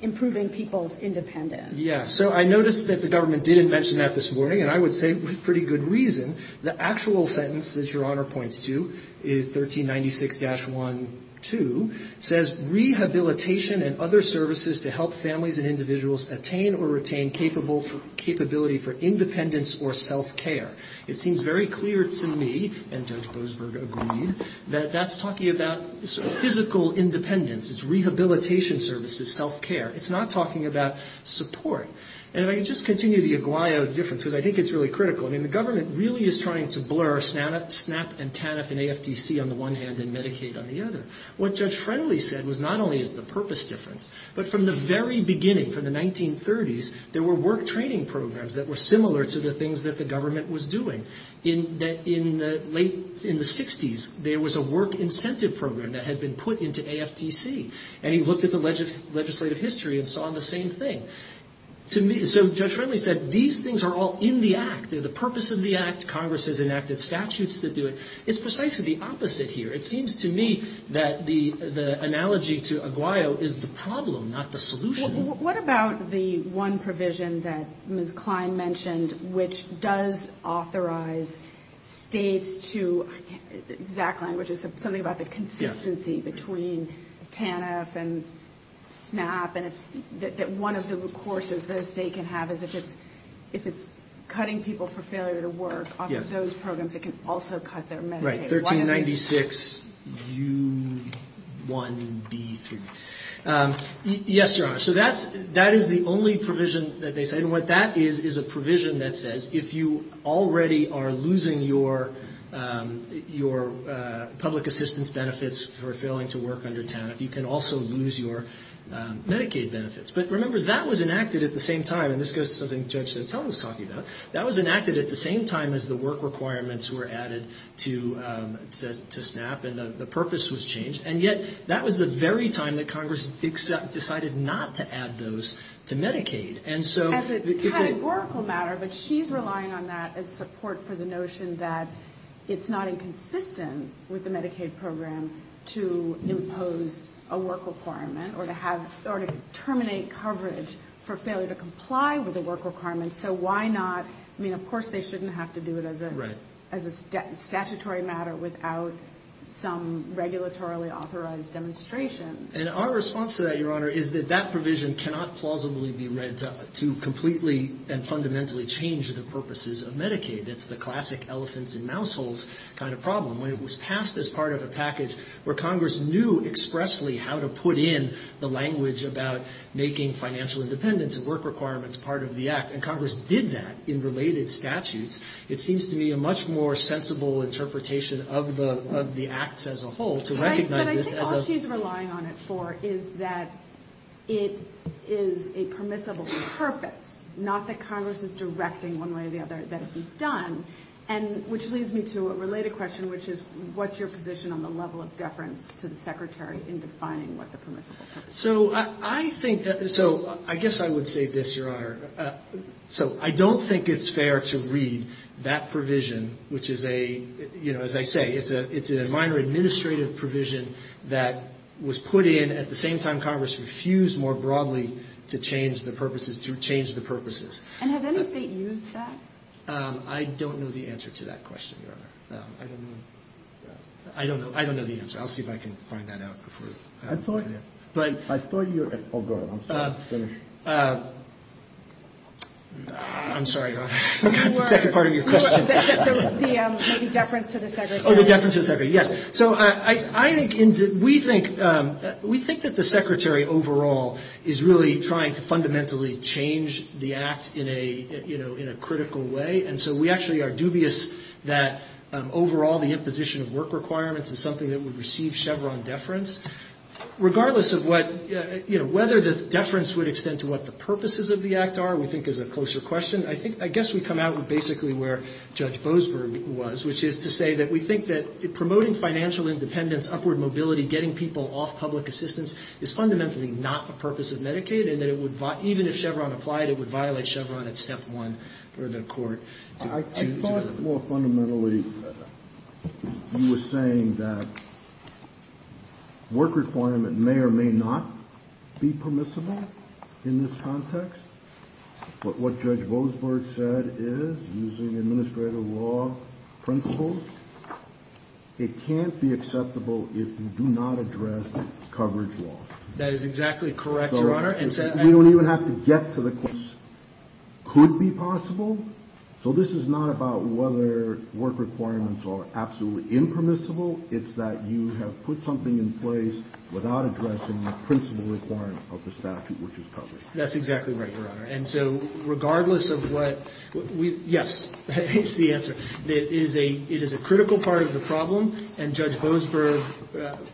improving people's independence? Yeah, so I noticed that the government didn't mention that this morning, and I would say with pretty good reason. The actual sentence that Your Honor points to, 1396-1-2, says, rehabilitation and other services to help families and individuals attain or retain capability for independence or self-care. It seems very clear to me, and Judge Boasberg agreed, that that's talking about physical independence. It's rehabilitation services, self-care. It's not talking about support, and if I could just continue the Aguayo difference, because I think it's really critical. I mean, the government really is trying to blur SNAP and TANF in AFDC on the one hand, and Medicaid on the other. What Judge Friendly said was not only is the purpose difference, but from the very beginning, from the 1930s, there were work training programs that were similar to the things that the government was doing. In the late, in the 60s, there was a work incentive program that had been put into AFDC, and he looked at the legislative history and saw the same thing. So Judge Friendly said, these things are all in the Act. They're the purpose of the Act. Congress has enacted statutes that do it. It's precisely the opposite here. It seems to me that the analogy to Aguayo is the problem, not the solution. What about the one provision that Ms. Klein mentioned, which does authorize states to, in exact language, is something about the consistency between TANF and SNAP, and that one of the courses that a state can have is if it's cutting people for failure to work, off of those programs, it can also cut their Medicaid. Right, 1396 U1B3. Yes, Your Honor, so that is the only provision that they say, and what that is, is a provision that says, if you already are losing your public assistance benefits for failing to work under TANF, you can also lose your Medicaid benefits. But remember, that was enacted at the same time, and this goes to something Judge Chantel was talking about, that was enacted at the same time as the work requirements were added to SNAP, and the purpose was changed. And yet, that was the very time that Congress decided not to add those to Medicaid. As a categorical matter, but she's relying on that as support for the notion that it's not inconsistent with the Medicaid program to impose a work requirement, or to terminate coverage for failure to comply with a work requirement, so why not, I mean, of course they shouldn't have to do it as a statutory matter without some regulatorily authorized demonstration. And our response to that, Your Honor, is that that provision cannot plausibly be read to completely and fundamentally change the purposes of Medicaid. It's the classic elephants and mouse holes kind of problem. When it was passed as part of a package where Congress knew expressly how to put in the language about making financial independence and work requirements part of the act, and Congress did that in related statutes, it seems to me a much more sensible interpretation of the acts as a whole to recognize this as a... But I think all she's relying on it for is that it is a permissible purpose, not that Congress is directing one way or the other that it be done, which leads me to a related question, which is, what's your position on the level of deference to the Secretary in defining what the permissible purpose is? So I think, so I guess I would say this, Your Honor. So I don't think it's fair to read that provision, which is a, you know, as I say, it's a minor administrative provision that was put in at the same time Congress refused more broadly to change the purposes, to change the purposes. And has any State used that? I don't know the answer to that question, Your Honor. I don't know. I don't know the answer. I thought you... Oh, go ahead. I'm sorry. Finish. I'm sorry, Your Honor. I forgot the second part of your question. The deference to the Secretary. Oh, the deference to the Secretary. Yes. So I think, we think that the Secretary overall is really trying to fundamentally change the act in a critical way, and so we actually are dubious that overall the imposition of work requirements is something that would receive Chevron deference. Regardless of what, you know, whether this deference would extend to what the purposes of the act are, we think is a closer question. I think, I guess we come out with basically where Judge Boasberg was, which is to say that we think that promoting financial independence, upward mobility, getting people off public assistance is fundamentally not the purpose of Medicaid, and that it would, even if Chevron applied, it would violate Chevron at step one for the court to... Well, fundamentally, you were saying that work requirement may or may not be permissible in this context, but what Judge Boasberg said is, using administrative law principles, it can't be acceptable if you do not address coverage law. We don't even have to get to the courts. It could be possible. So this is not about whether work requirements are absolutely impermissible, it's that you have put something in place without addressing the principle requirement of the statute, which is coverage. That's exactly right, Your Honor. And so regardless of what we, yes, that is the answer. It is a critical part of the problem, and Judge Boasberg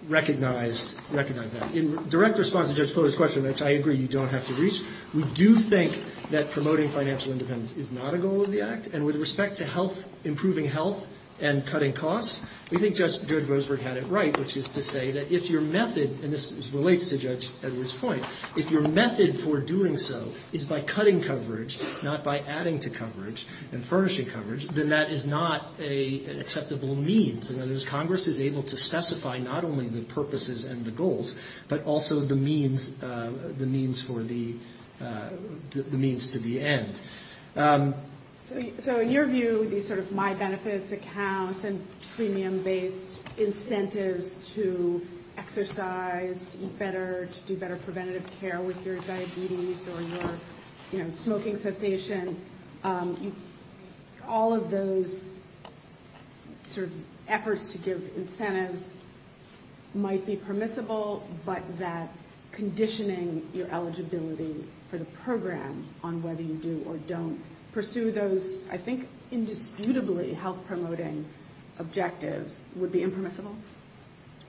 recognized that. In direct response to Judge Fuller's question, which I agree you don't have to reach, we do think that promoting financial independence is not a goal of the act, and with respect to health, improving health and cutting costs, we think Judge Boasberg had it right, which is to say that if your method, and this relates to Judge Edwards' point, if your method for doing so is by cutting coverage, not by adding to coverage and furnishing coverage, then that is not an acceptable means. In other words, Congress is able to specify not only the purposes and the goals, but also the means for the, the means to the end. So in your view, these sort of My Benefits accounts and premium-based incentives to exercise, to eat better, to do better preventative care with your diabetes or your, you know, smoking cessation, all of those sort of efforts to give incentives might be permissible, but that conditioning your eligibility for the program on whether you do or don't pursue those, I think, indisputably health-promoting objectives, would be impermissible?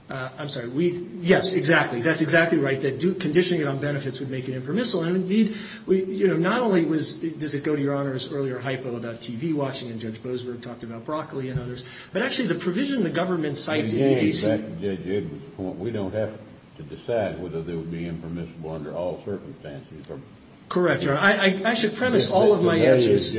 I'm sorry. We, yes, exactly. That's exactly right, that conditioning it on benefits would make it impermissible, and indeed, you know, not only was, does it go to your Honor's earlier hypo about TV watching, and Judge Boasberg talked about broccoli and others, but actually the provision the government sites in DC. Correct, Your Honor. I should premise all of my answers.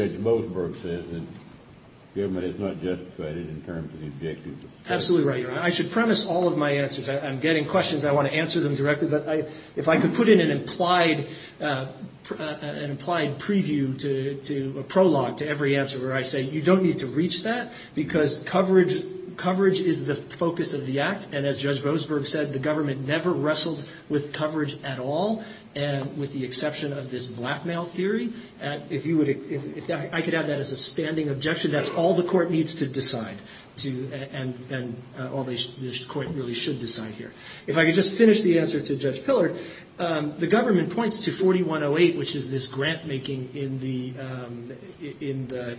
Absolutely right, Your Honor. I should premise all of my answers. I'm getting questions. I want to answer them directly. But if I could put in an implied, an implied preview to a prologue to every answer where I say you don't need to reach that, because coverage, coverage is the focus of the act, and as Judge Roseberg said, the government never wrestled with coverage at all, and with the exception of this blackmail theory. If you would, if I could have that as a standing objection, that's all the court needs to decide, and all the court really should decide here. If I could just finish the answer to Judge Pillard, the government points to 4108, which is this grant-making in the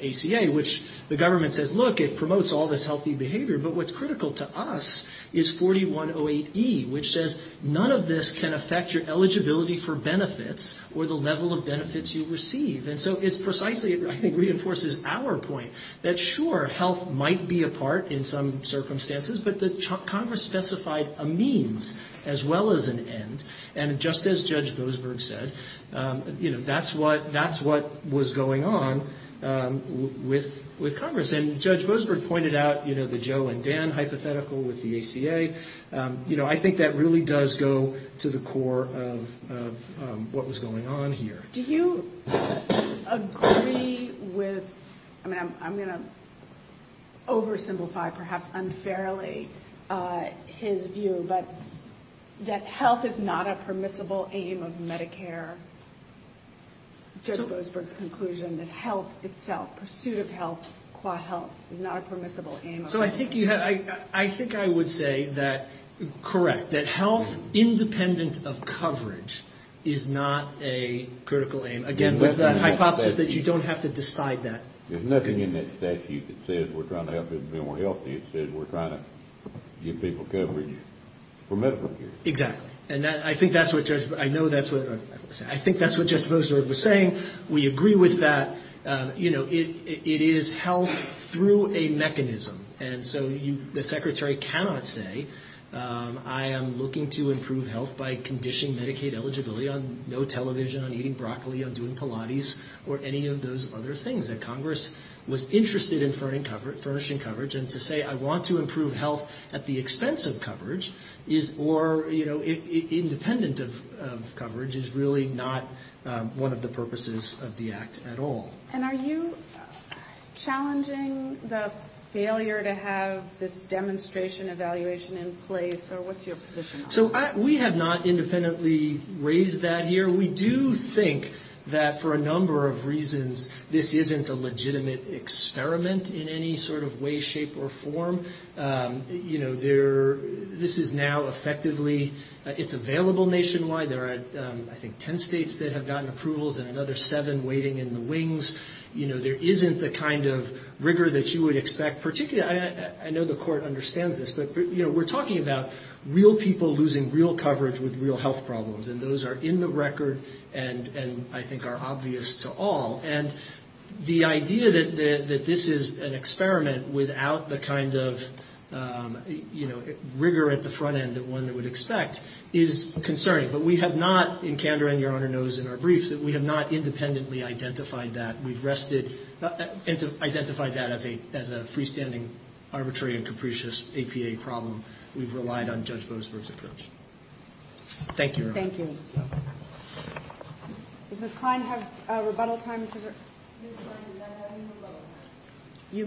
ACA, which the government says, look, it promotes all this healthy behavior, but what's critical to us is 4108E, which says none of this can affect your eligibility for benefits, or the level of benefits you receive. And so it's precisely, I think, reinforces our point that sure, health might be a part in some circumstances, but Congress specified a means as well as an end, and just as Judge Roseberg said, you know, that's what, that's what was going on with Congress. And Judge Roseberg pointed out, you know, the Joe and Dan hypothetical with the ACA. You know, I think that really does go to the core of what was going on here. Do you agree with, I mean, I'm going to oversimplify, perhaps unfairly, his view, but that health is not a permissible aim of Medicare? Judge Roseberg's conclusion that health itself, pursuit of health, qua health, is not a permissible aim of Medicare. So I think you have, I think I would say that, correct, that health independent of coverage is not a critical aim. Again, with that hypothesis that you don't have to decide that. There's nothing in that statute that says we're trying to help people be more healthy. It says we're trying to give people coverage for medical care. Exactly. And I think that's what Judge, I know that's what, I think that's what Judge Roseberg was saying. We agree with that. You know, it is health through a mechanism. And so you, the Secretary cannot say, I am looking to improve health by conditioning Medicaid eligibility on no television, on eating broccoli, on doing Pilates, or any of those other things that Congress was interested in furnishing coverage. And to say I want to improve health at the expense of coverage is, or, you know, independent of coverage is really not one of the purposes of the Act at all. And are you challenging the failure to have this demonstration evaluation in place, or what's your position on that? So we have not independently raised that here. So we do think that for a number of reasons this isn't a legitimate experiment in any sort of way, shape, or form. You know, there, this is now effectively, it's available nationwide. There are, I think, ten states that have gotten approvals and another seven waiting in the wings. You know, there isn't the kind of rigor that you would expect, particularly, I know the Court understands this, but, you know, we're talking about real people losing real coverage with real health problems. And those are in the record and I think are obvious to all. And the idea that this is an experiment without the kind of, you know, rigor at the front end that one would expect is concerning. But we have not, and Kander and Your Honor knows in our briefs, that we have not independently identified that. We've rested, identified that as a freestanding, arbitrary, and capricious APA problem. We've relied on Judge Boasberg's approach. Thank you, Your Honor. Thank you. Does Ms. Kline have rebuttal time? You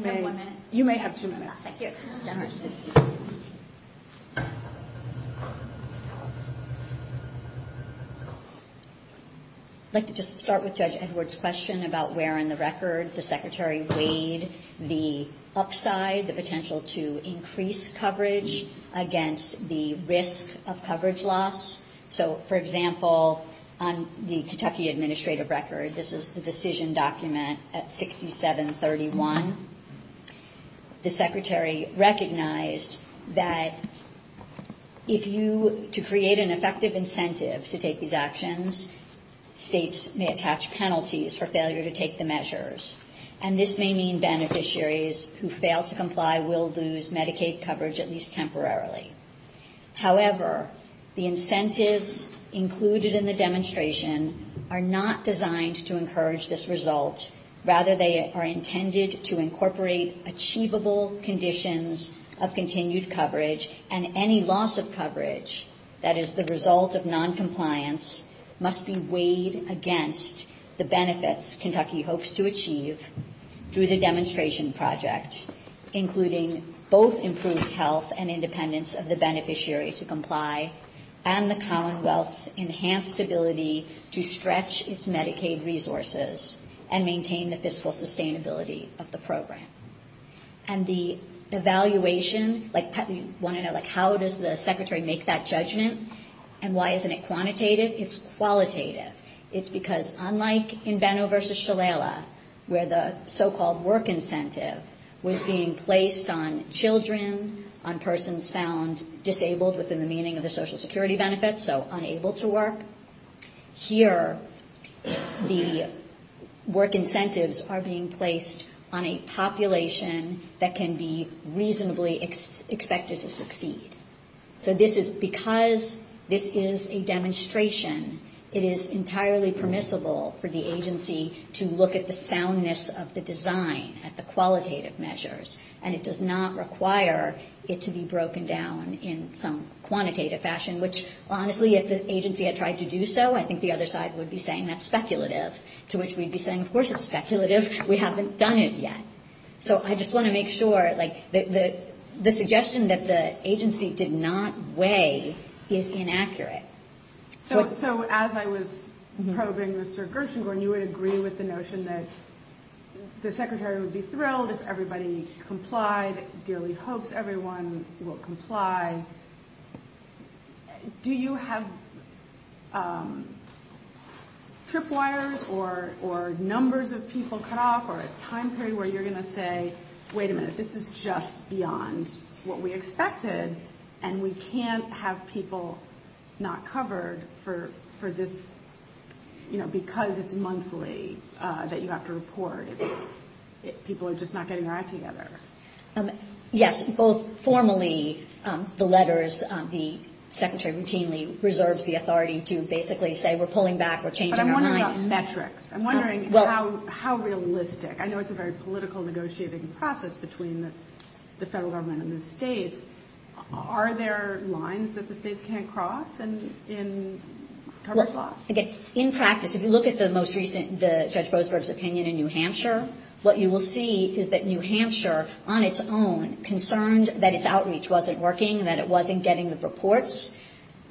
may have two minutes. I'd like to just start with Judge Edwards' question about where in the record the Secretary weighed the upside, the potential to increase coverage against the risk of coverage loss. So, for example, on the Kentucky Administrative Record, this is the decision document at 6731. The Secretary recognized that if you, to create an effective incentive to take these actions, states may attach penalties for failure to take the measures. And this may mean beneficiaries who fail to comply will lose Medicaid coverage, at least temporarily. However, the incentives included in the demonstration are not designed to encourage this result. Rather, they are intended to incorporate achievable conditions of continued coverage, and any loss of coverage that is the result of noncompliance must be weighed against the benefits Kentucky hopes to achieve. Through the demonstration project, including both improved health and independence of the beneficiaries who comply, and the Commonwealth's enhanced ability to stretch its Medicaid resources and maintain the fiscal sustainability of the program. And the evaluation, like, you want to know, like, how does the Secretary make that judgment, and why isn't it quantitative? It's qualitative. It's because unlike in Benno v. Shalala, where the so-called work incentive was being placed on children, on persons found disabled within the meaning of the Social Security benefits, so unable to work, here the work incentives are being placed on a population that can be reasonably expected to succeed. So this is, because this is a demonstration, it is entirely permissible for the agency to look at the soundness of the design, at the qualitative measures, and it does not require it to be broken down in some quantitative fashion, which, honestly, if the agency had tried to do so, I think the other side would be saying that's speculative, to which we'd be saying, of course it's speculative, we haven't done it yet. The fact that the agency did not weigh is inaccurate. So as I was probing Mr. Gershengorn, you would agree with the notion that the Secretary would be thrilled if everybody complied, dearly hopes everyone will comply. Do you have tripwires or numbers of people cut off, or a time period where you're going to say, wait a minute, this is just beyond what we expected, and we can't have people not covered for this, you know, because it's monthly, that you have to report, people are just not getting their act together? Yes, both formally, the letters, the Secretary routinely reserves the authority to basically say we're pulling back, we're changing our mind. I'm wondering how realistic, I know it's a very political negotiating process between the federal government and the states, are there lines that the states can't cross in coverage loss? In practice, if you look at the most recent, Judge Boasberg's opinion in New Hampshire, what you will see is that New Hampshire, on its own, concerned that its outreach wasn't working, that it wasn't getting the reports,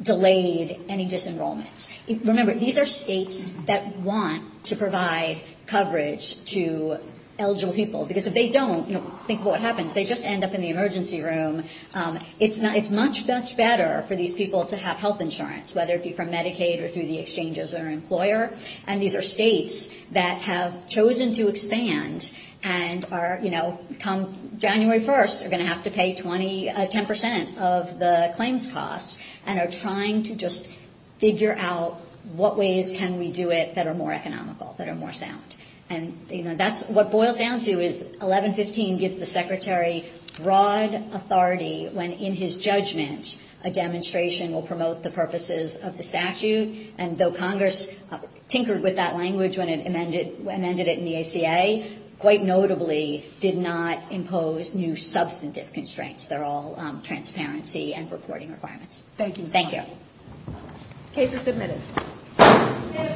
delayed any disenrollment. Remember, these are states that want to provide coverage to eligible people, because if they don't, think of what happens, they just end up in the emergency room. It's much, much better for these people to have health insurance, whether it be from Medicaid or through the exchanges or employer, and these are states that have chosen to expand and are, you know, come January 1st, are going to have to pay 20, 10 percent of the claims costs and are trying to just figure out what ways can we do it that are more economical, that are more sound. And, you know, that's what boils down to is 1115 gives the Secretary broad authority when, in his judgment, a demonstration will promote the purposes of the statute, and though Congress tinkered with that language when it amended it in the ACA, quite notably did not impose new substantive constraints. They're all transparency and reporting requirements. Thank you.